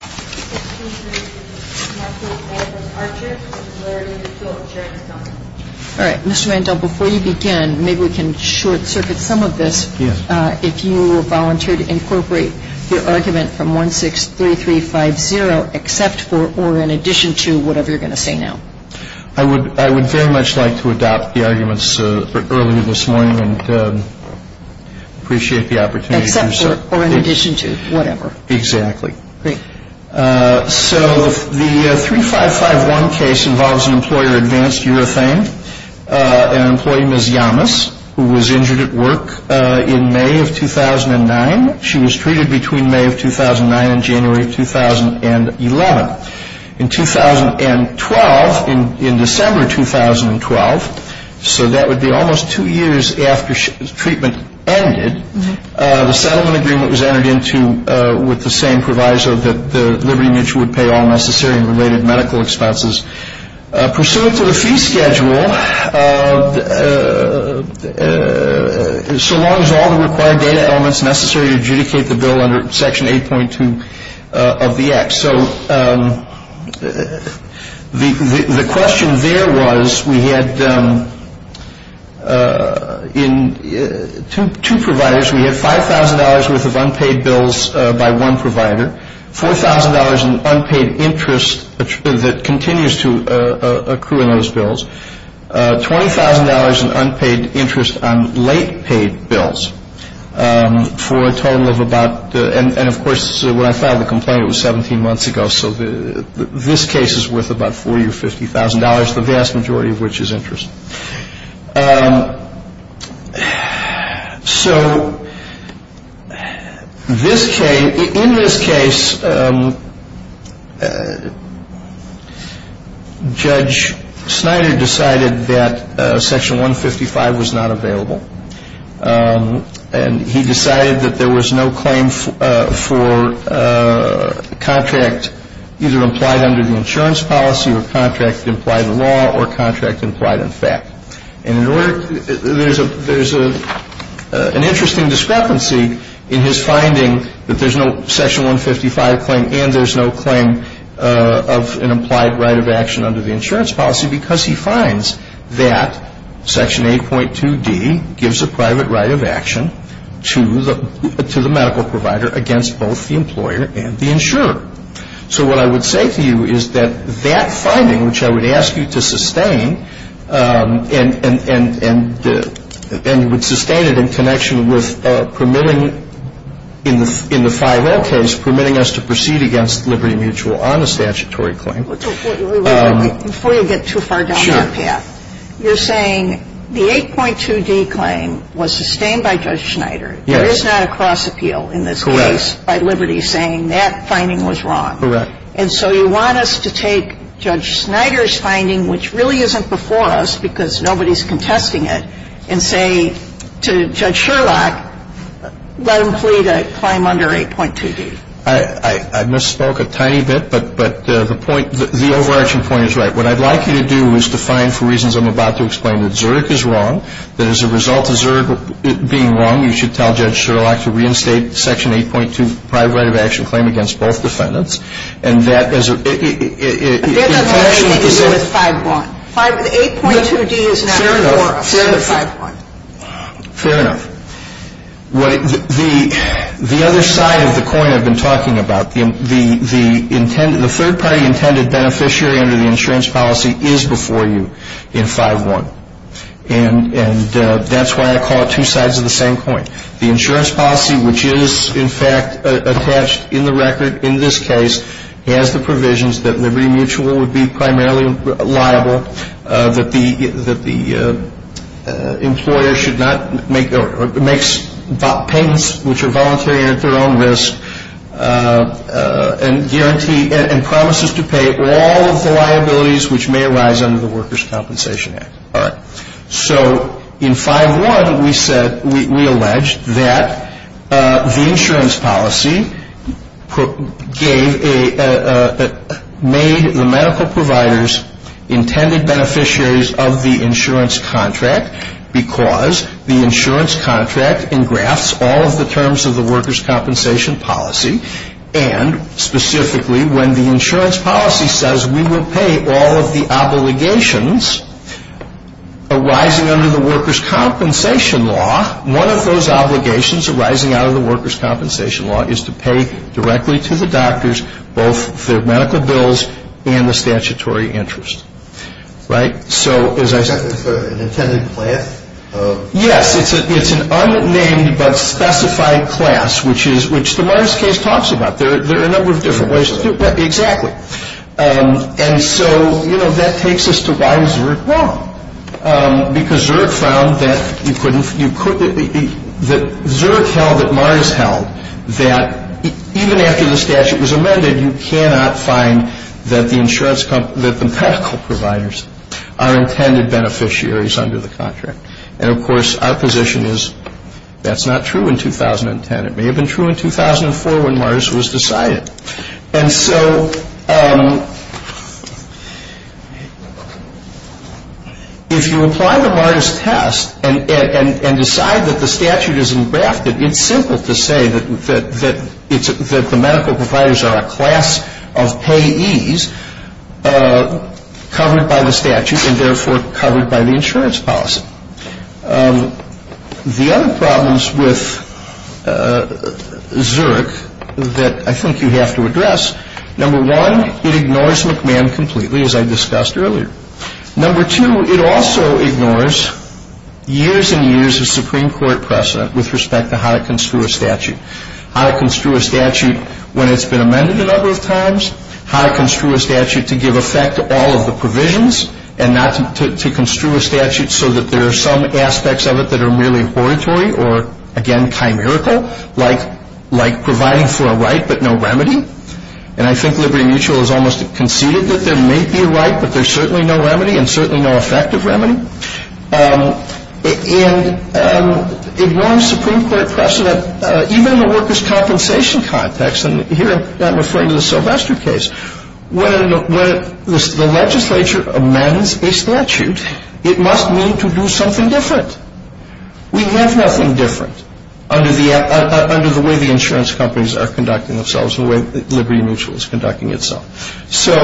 All right, Mr. Randall, before you begin, maybe we can short-circuit some of this, if you will volunteer to incorporate your argument from 163350, except for or in addition to whatever you're going to say now. I would very much like to adopt the arguments earlier this morning and appreciate the opportunity. Except for or in addition to whatever. Exactly. Great. So the 3551 case involves an employer, Advanced Urethane, an employee, Ms. Yamas, who was injured at work in May of 2009. She was treated between May of 2009 and January of 2011. In 2012, in December 2012, so that would be almost two years after treatment ended, the settlement agreement was entered into with the same proviso that Liberty Mutual would pay all necessary and related medical expenses. Pursuant to the fee schedule, so long as all the required data elements necessary to adjudicate the bill under Section 8.2 of the Act. So the question there was we had two providers. We had $5,000 worth of unpaid bills by one provider, $4,000 in unpaid interest that continues to accrue in those bills, $20,000 in unpaid interest on late paid bills for a total of about, and of course when I filed the complaint it was 17 months ago, so this case is worth about $40,000 or $50,000, the vast majority of which is interest. So this case, in this case, Judge Snyder decided that Section 155 was not available, and he decided that there was no claim for contract either implied under the insurance policy or contract implied in law or contract implied in fact. There's an interesting discrepancy in his finding that there's no Section 155 claim and there's no claim of an implied right of action under the insurance policy because he finds that Section 8.2D gives a private right of action to the medical provider against both the employer and the insurer. So what I would say to you is that that finding, which I would ask you to sustain, and you would sustain it in connection with permitting, in the 5L case, permitting us to proceed against Liberty Mutual on a statutory claim. Before you get too far down that path, you're saying the 8.2D claim was sustained by Judge Snyder, there is not a cross-appeal in this case by Liberty saying that finding was wrong. Correct. And so you want us to take Judge Snyder's finding, which really isn't before us because nobody's contesting it, and say to Judge Sherlock, let him plead a claim under 8.2D. I misspoke a tiny bit, but the point, the overarching point is right. What I'd like you to do is to find for reasons I'm about to explain that Zurich is wrong, that as a result of Zurich being wrong, you should tell Judge Sherlock to reinstate Section 8.2 private right of action claim against both defendants, and that as a ---- That doesn't have anything to do with 5.1. 8.2D is not before us. Fair enough. Fair enough. The other side of the coin I've been talking about, the third-party intended beneficiary under the insurance policy is before you in 5.1. And that's why I call it two sides of the same coin. The insurance policy, which is, in fact, attached in the record in this case, has the provisions that Liberty Mutual would be primarily liable, that the employer should not make or makes patents which are voluntary and at their own risk, and promises to pay all of the liabilities which may arise under the Workers' Compensation Act. All right. So in 5.1, we said, we alleged that the insurance policy made the medical providers intended beneficiaries of the insurance contract because the insurance contract engrafts all of the terms of the workers' compensation policy, and specifically when the insurance policy says we will pay all of the obligations arising under the workers' compensation law, one of those obligations arising out of the workers' compensation law is to pay directly to the doctors both their medical bills and the statutory interest. Right? Is that an intended class? Yes. It's an unnamed but specified class, which the Mars case talks about. There are a number of different ways to do it. Exactly. And so, you know, that takes us to why is Zerk wrong? Because Zerk found that you couldn't, that Zerk held that Mars held that even after the statute was amended, you cannot find that the medical providers are intended beneficiaries under the contract. And, of course, our position is that's not true in 2010. It may have been true in 2004 when Mars was decided. And so if you apply the Mars test and decide that the statute is engrafted, it's simple to say that the medical providers are a class of payees covered by the statute and therefore covered by the insurance policy. The other problems with Zerk that I think you have to address, number one, it ignores McMahon completely, as I discussed earlier. Number two, it also ignores years and years of Supreme Court precedent with respect to how to construe a statute, how to construe a statute when it's been amended a number of times, how to construe a statute to give effect to all of the provisions and not to construe a statute so that there are some aspects of it that are merely oratory or, again, chimerical, like providing for a right but no remedy. And I think Liberty Mutual has almost conceded that there may be a right, but there's certainly no remedy and certainly no effective remedy. And ignoring Supreme Court precedent, even in the workers' compensation context, and here I'm referring to the Sylvester case, when the legislature amends a statute, it must mean to do something different. We have nothing different under the way the insurance companies are conducting themselves and the way Liberty Mutual is conducting itself. So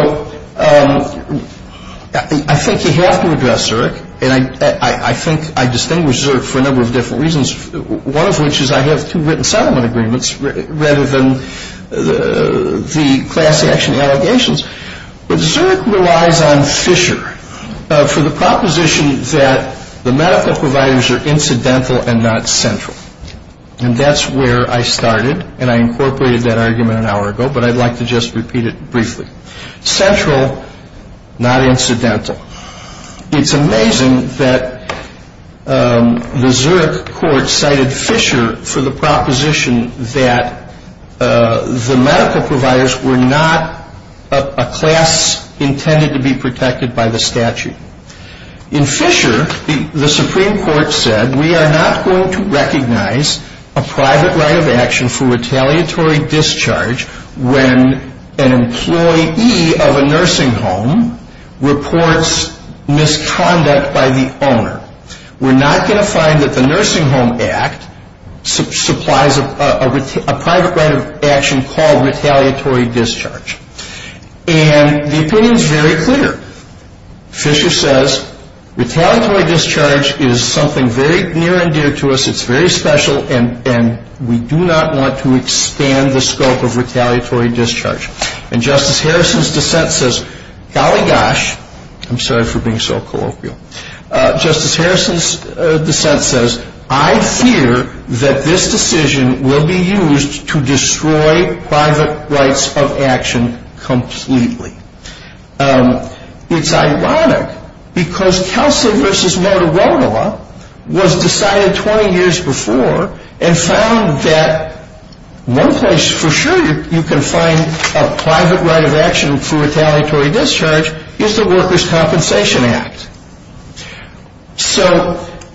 I think you have to address Zurich, and I think I distinguish Zurich for a number of different reasons, one of which is I have two written settlement agreements rather than the class action allegations. But Zurich relies on Fisher for the proposition that the medical providers are incidental and not central. And that's where I started, and I incorporated that argument an hour ago, but I'd like to just repeat it briefly. Central, not incidental. It's amazing that the Zurich court cited Fisher for the proposition that the medical providers were not a class intended to be protected by the statute. In Fisher, the Supreme Court said we are not going to recognize a private right of action for retaliatory discharge when an employee of a nursing home reports misconduct by the owner. We're not going to find that the Nursing Home Act supplies a private right of action called retaliatory discharge. And the opinion is very clear. Fisher says retaliatory discharge is something very near and dear to us. It's very special, and we do not want to expand the scope of retaliatory discharge. And Justice Harrison's dissent says, golly gosh, I'm sorry for being so colloquial. Justice Harrison's dissent says, I fear that this decision will be used to destroy private rights of action completely. It's ironic because Kelsey v. Motorola was decided 20 years before and found that one place for sure you can find a private right of action for retaliatory discharge is the Workers' Compensation Act. So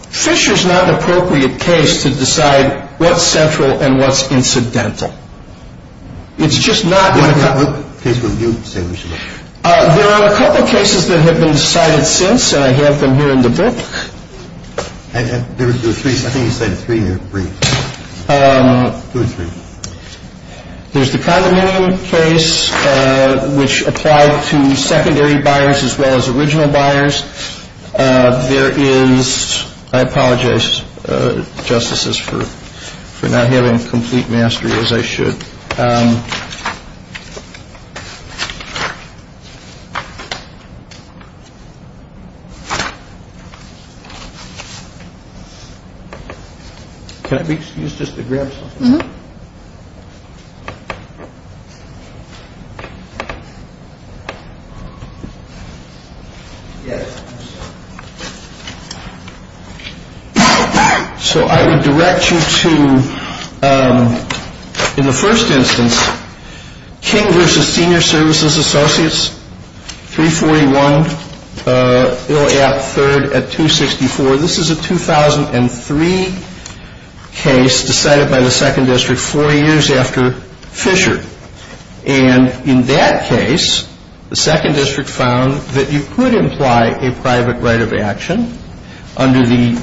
Fisher's not an appropriate case to decide what's central and what's incidental. It's just not going to happen. What case would you say we should look at? There are a couple of cases that have been decided since, and I have them here in the book. There were three. I think you said three or three. Two or three. There's the condominium case, which applied to secondary buyers as well as original buyers. There is, I apologize, Justices, for not having complete mastery as I should. Can I be excused just to grab something? Yes. So I would direct you to, in the first instance, King v. Senior Services Associates, 341 Illiop Third at 264. So this is a 2003 case decided by the Second District four years after Fisher. And in that case, the Second District found that you could imply a private right of action under the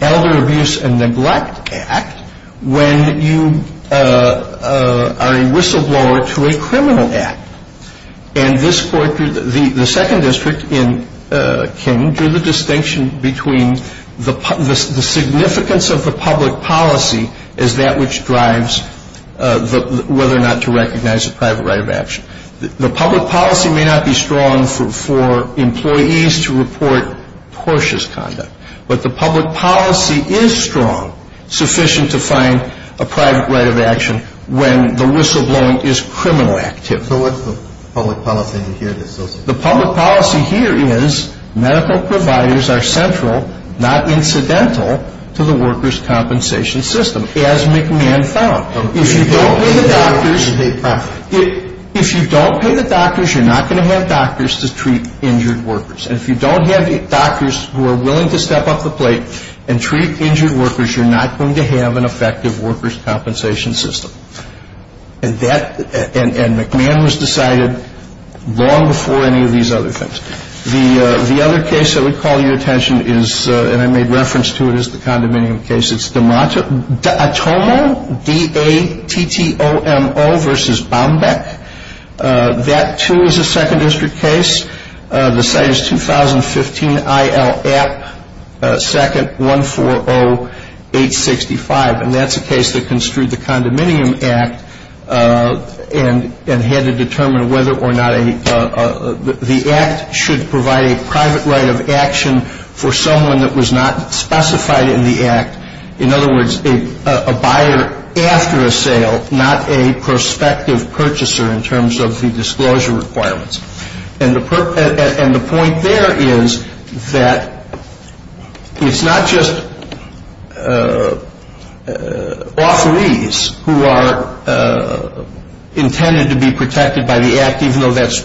Elder Abuse and Neglect Act when you are a whistleblower to a criminal act. And the Second District in King drew the distinction between the significance of the public policy as that which drives whether or not to recognize a private right of action. The public policy may not be strong for employees to report cautious conduct, but the public policy is strong, sufficient to find a private right of action when the whistleblowing is criminal activity. So what's the public policy here? The public policy here is medical providers are central, not incidental, to the workers' compensation system, as McMahon found. If you don't pay the doctors, you're not going to have doctors to treat injured workers. And if you don't have doctors who are willing to step up the plate and treat injured workers, you're not going to have an effective workers' compensation system. And McMahon was decided long before any of these other things. The other case that would call your attention is, and I made reference to it as the condominium case, it's D'Atomo v. Baumbeck. That, too, is a Second District case. The site is 2015 IL App 2nd 140865, and that's a case that construed the Condominium Act and had to determine whether or not the Act should provide a private right of action for someone that was not specified in the Act. In other words, a buyer after a sale, not a prospective purchaser in terms of the disclosure requirements. And the point there is that it's not just authorees who are intended to be protected by the Act, even though that's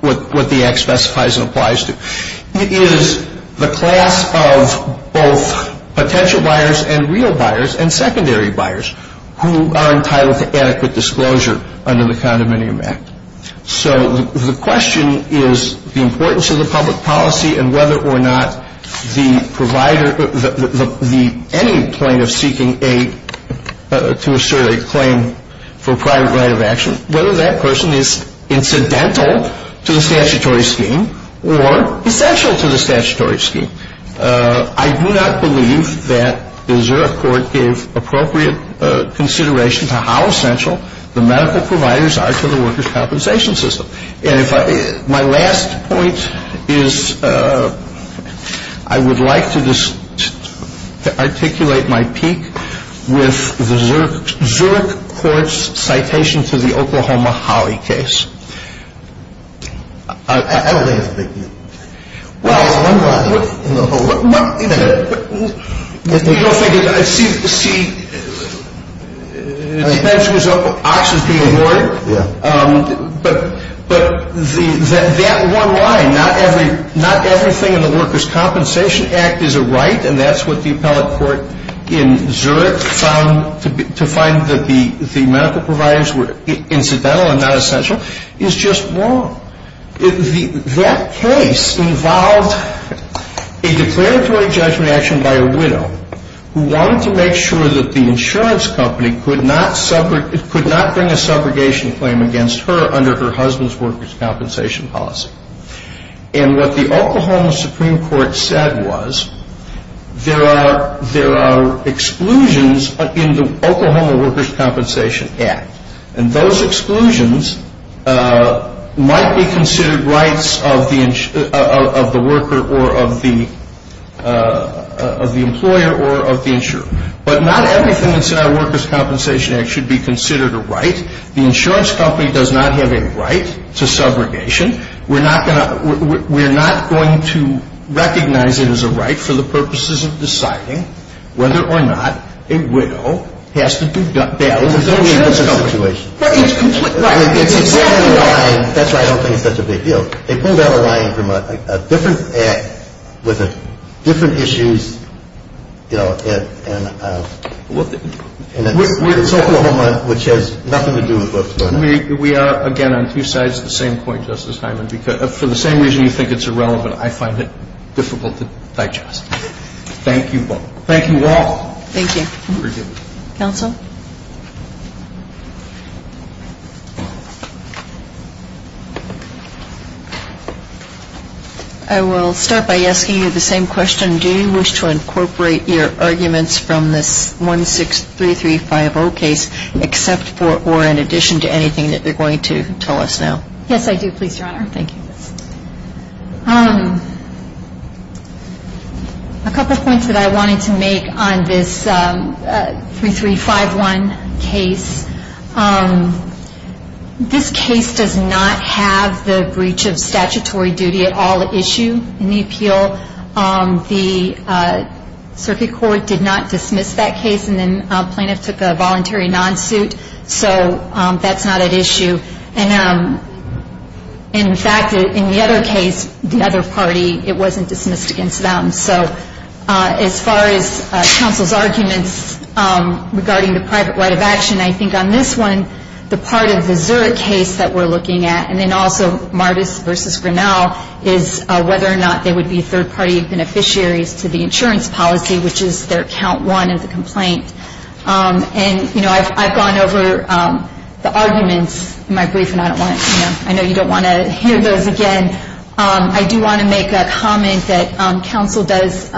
what the Act specifies and applies to. It is the class of both potential buyers and real buyers and secondary buyers who are entitled to adequate disclosure under the Condominium Act. So the question is the importance of the public policy and whether or not the provider, any plaintiff seeking to assert a claim for a private right of action, whether that person is incidental to the statutory scheme or essential to the statutory scheme. I do not believe that the Zurich Court gave appropriate consideration to how essential the medical providers are to the workers' compensation system. And my last point is I would like to articulate my peak with the Zurich Court's citation to the Oklahoma-Hawley case. I don't think it's a big deal. Well, one line in the whole. You know, I see it depends whose ox is being hoarded. But that one line, not everything in the Workers' Compensation Act is a right, and that's what the appellate court in Zurich found to be, to find that the medical providers were incidental and not essential. It's just wrong. That case involved a declaratory judgment action by a widow who wanted to make sure that the insurance company could not bring a subrogation claim against her under her husband's workers' compensation policy. And what the Oklahoma Supreme Court said was there are exclusions in the Oklahoma Workers' Compensation Act, and those exclusions might be considered rights of the worker or of the employer or of the insurer. But not everything that's in our Workers' Compensation Act should be considered a right. The insurance company does not have a right to subrogation. We're not going to recognize it as a right for the purposes of deciding whether or not a widow has to be bailed without insurance coverage. That's why I don't think it's such a big deal. They pulled out a line from a different act with different issues, you know, in Oklahoma, which has nothing to do with what's going on. We are, again, on two sides of the same coin, Justice Hyman. For the same reason you think it's irrelevant, I find it difficult to digest. Thank you all. Thank you. Counsel? I will start by asking you the same question. Do you wish to incorporate your arguments from this 163350 case, except for or in addition to anything that you're going to tell us now? Yes, I do, please, Your Honor. Thank you. A couple points that I wanted to make on this 3351 case. This case does not have the breach of statutory duty at all at issue in the appeal. The circuit court did not dismiss that case, and then plaintiffs took a voluntary non-suit, so that's not at issue. And, in fact, in the other case, the other party, it wasn't dismissed against them. So as far as counsel's arguments regarding the private right of action, I think on this one the part of the Zurich case that we're looking at, and then also Mardis v. Grinnell, is whether or not they would be third-party beneficiaries to the insurance policy, which is their count one in the complaint. And, you know, I've gone over the arguments in my brief, and I know you don't want to hear those again. I do want to make a comment that counsel does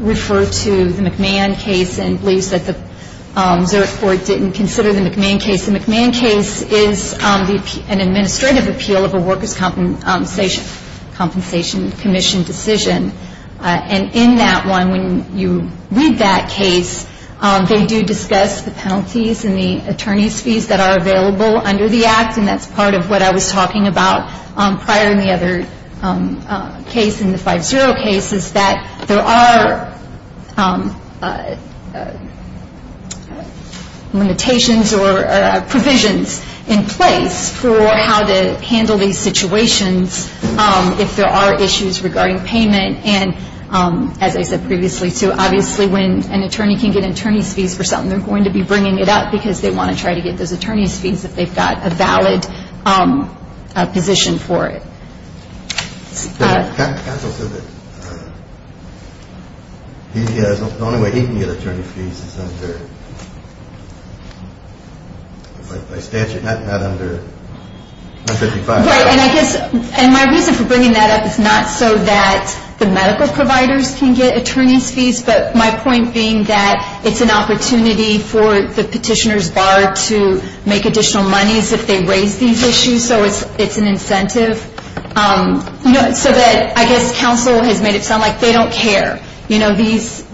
refer to the McMahon case and believes that the Zurich court didn't consider the McMahon case. The McMahon case is an administrative appeal of a workers' compensation commission decision. And in that one, when you read that case, they do discuss the penalties and the attorney's fees that are available under the act, and that's part of what I was talking about prior in the other case, in the 5-0 case, is that there are limitations or provisions in place for how to handle these situations if there are issues regarding payment. And as I said previously, too, obviously when an attorney can get an attorney's fees for something, they're going to be bringing it up because they want to try to get those attorney's fees if they've got a valid position for it. Counsel said that the only way he can get attorney's fees is by statute, not under 155. Right. And I guess my reason for bringing that up is not so that the medical providers can get attorney's fees, but my point being that it's an opportunity for the petitioner's bar to make additional monies if they raise these issues, so it's an incentive. So that I guess counsel has made it sound like they don't care.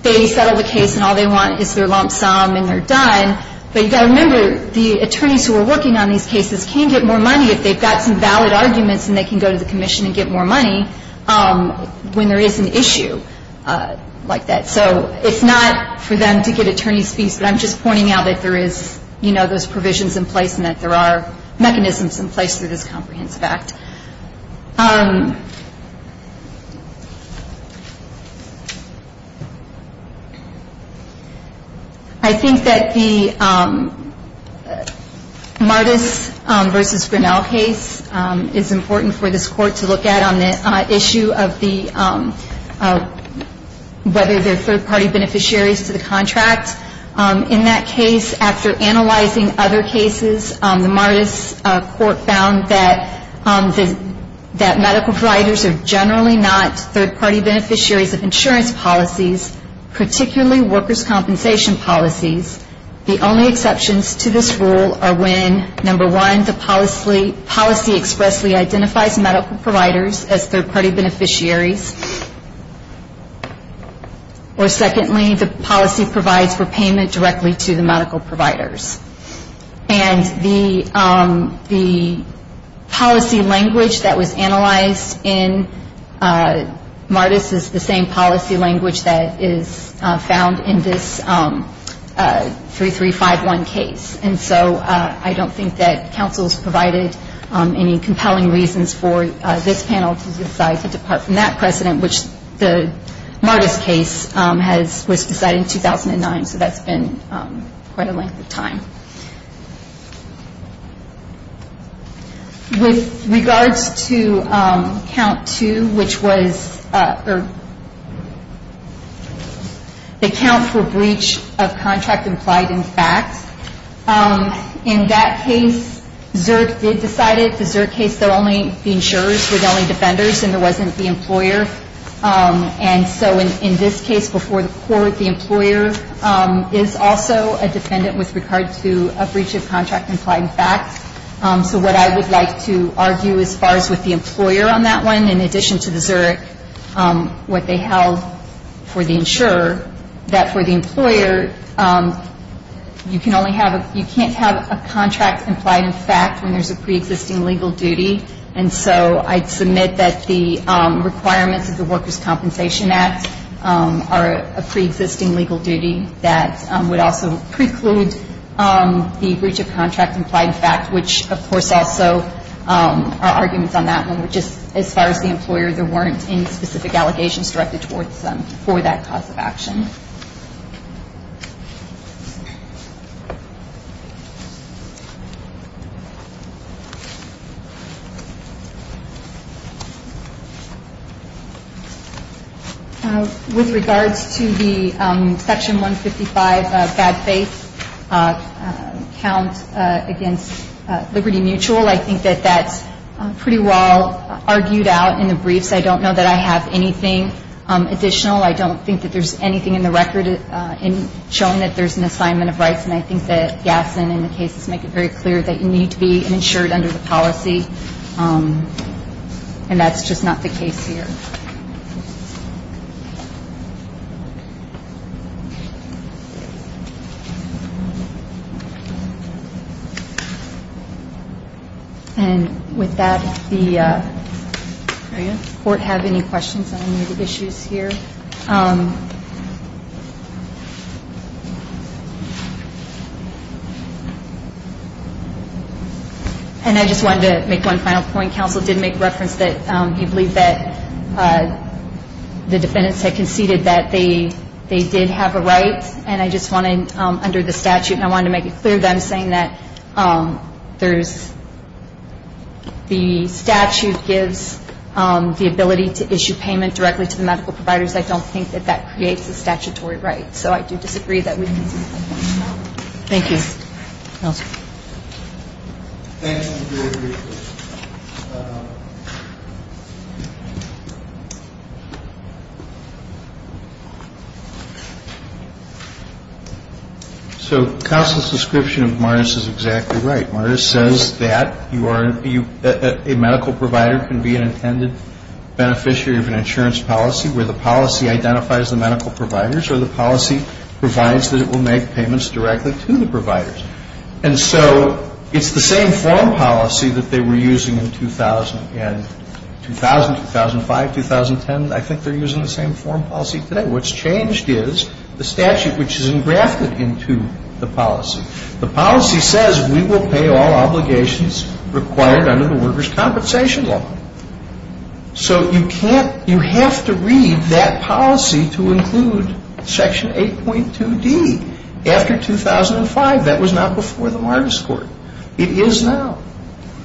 They settle the case, and all they want is their lump sum, and they're done. But you've got to remember, the attorneys who are working on these cases can get more money if they've got some valid arguments and they can go to the commission and get more money when there is an issue like that. So it's not for them to get attorney's fees, but I'm just pointing out that there is those provisions in place and that there are mechanisms in place for this comprehensive act. I think that the Mardis v. Grinnell case is important for this court to look at on the issue of the whether they're third-party beneficiaries to the contract. In that case, after analyzing other cases, the Mardis court found that the third-party beneficiaries and that medical providers are generally not third-party beneficiaries of insurance policies, particularly workers' compensation policies. The only exceptions to this rule are when, number one, the policy expressly identifies medical providers as third-party beneficiaries, or secondly, the policy provides for payment directly to the medical providers. And the policy language that was analyzed in Mardis is the same policy language that is found in this 3351 case. And so I don't think that counsel's provided any compelling reasons for this panel to decide to depart from that precedent, which the Mardis case was decided in 2009, so that's been quite a length of time. With regards to count two, which was the count for breach of contract implied in fact, In that case, ZURC did decide it. The ZURC case, the insurers were the only defenders and there wasn't the employer. And so in this case, before the court, the employer is also a defendant with regard to a breach of contract implied in fact. So what I would like to argue as far as with the employer on that one, in addition to the ZURC, what they held for the insurer, that for the employer, you can't have a contract implied in fact when there's a preexisting legal duty. And so I'd submit that the requirements of the Workers' Compensation Act are a preexisting legal duty that would also preclude the breach of contract implied in fact, which, of course, also are arguments on that one. Just as far as the employer, there weren't any specific allegations directed towards them for that cause of action. With regards to the Section 155 bad faith count against Liberty Mutual, I think that that's pretty well argued out in the briefs. I don't know that I have anything additional. I don't think that there's anything in the record showing that there's an assignment of rights. And I think that Gadsden and the cases make it very clear that you need to be insured under the policy. And that's just not the case here. And with that, does the Court have any questions on any of the issues here? And I just wanted to make one final point. Counsel did make reference that he believed that the defendants had conceded that they did have a right. And I just wanted, under the statute, I wanted to make it clear that I'm saying that there's The statute gives the ability to issue payment directly to the medical providers. I don't think that that creates a statutory right. So I do disagree that we need to make that point. Thank you. Counsel. So counsel's description of Martis is exactly right. Martis says that a medical provider can be an intended beneficiary of an insurance policy where the policy identifies the medical providers or the policy provides that it will make payments directly to the providers. And so it's the same form policy that they were using in 2000 and 2000, 2005, 2010. I think they're using the same form policy today. What's changed is the statute which is engrafted into the policy. The policy says we will pay all obligations required under the Workers' Compensation Law. So you can't, you have to read that policy to include Section 8.2D. After 2005, that was not before the Martis Court. It is now.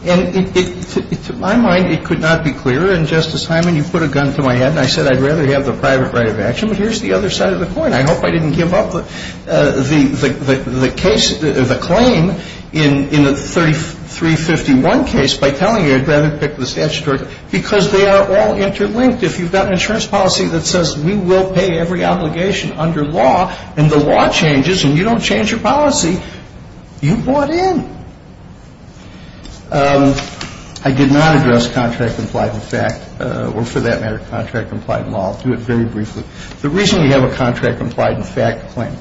And to my mind, it could not be clearer. And, Justice Hyman, you put a gun to my head and I said I'd rather have the private right of action. But here's the other side of the coin. I hope I didn't give up the case, the claim in the 351 case by telling you I'd rather pick the statutory. Because they are all interlinked. If you've got an insurance policy that says we will pay every obligation under law and the law changes and you don't change your policy, you bought in. I did not address contract-compliant in fact, or for that matter, contract-compliant in law. I'll do it very briefly. The reason we have a contract-compliant in fact claim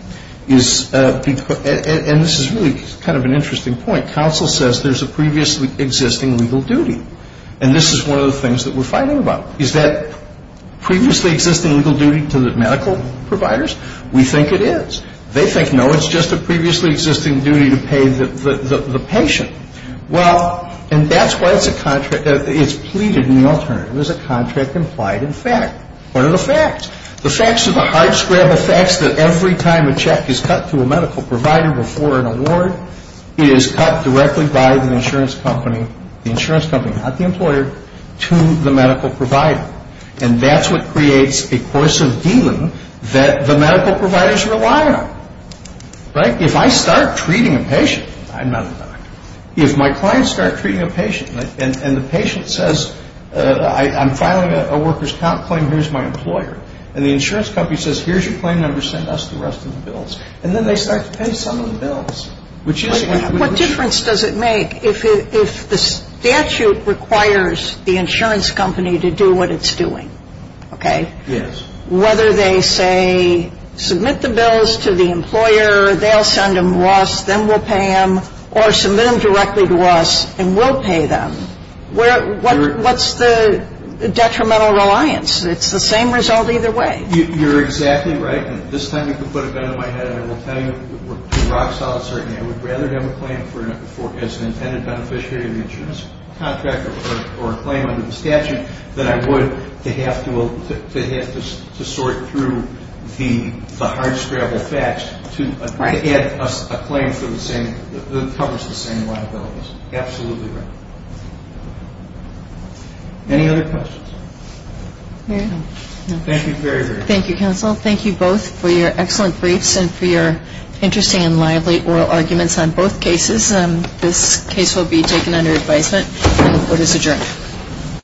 is because, and this is really kind of an interesting point, counsel says there's a previously existing legal duty. And this is one of the things that we're fighting about. Is that previously existing legal duty to the medical providers? We think it is. They think, no, it's just a previously existing duty to pay the patient. Well, and that's why it's a contract, it's pleaded in the alternative as a contract-compliant in fact. What are the facts? The facts are the hard scrap of facts that every time a check is cut to a medical provider before an award, it is cut directly by the insurance company, the insurance company, not the employer, to the medical provider. And that's what creates a course of dealing that the medical providers rely on. Right? If I start treating a patient, I'm not a doctor. If my clients start treating a patient and the patient says, I'm filing a worker's count claim, here's my employer. And the insurance company says, here's your claim number, send us the rest of the bills. And then they start to pay some of the bills. What difference does it make if the statute requires the insurance company to do what it's doing? Okay? Yes. Whether they say, submit the bills to the employer, they'll send them to us, then we'll pay them, or submit them directly to us and we'll pay them. What's the detrimental reliance? It's the same result either way. You're exactly right. And this time you can put a gun to my head and I will tell you we're too rock solid, certainly. I would rather have a claim as an intended beneficiary of the insurance contract or a claim under the statute than I would to have to sort through the hardscrabble facts to add a claim that covers the same liabilities. Absolutely right. Any other questions? Thank you very, very much. Thank you, counsel. Thank you both for your excellent briefs and for your interesting and lively oral arguments on both cases. This case will be taken under advisement. The vote is adjourned.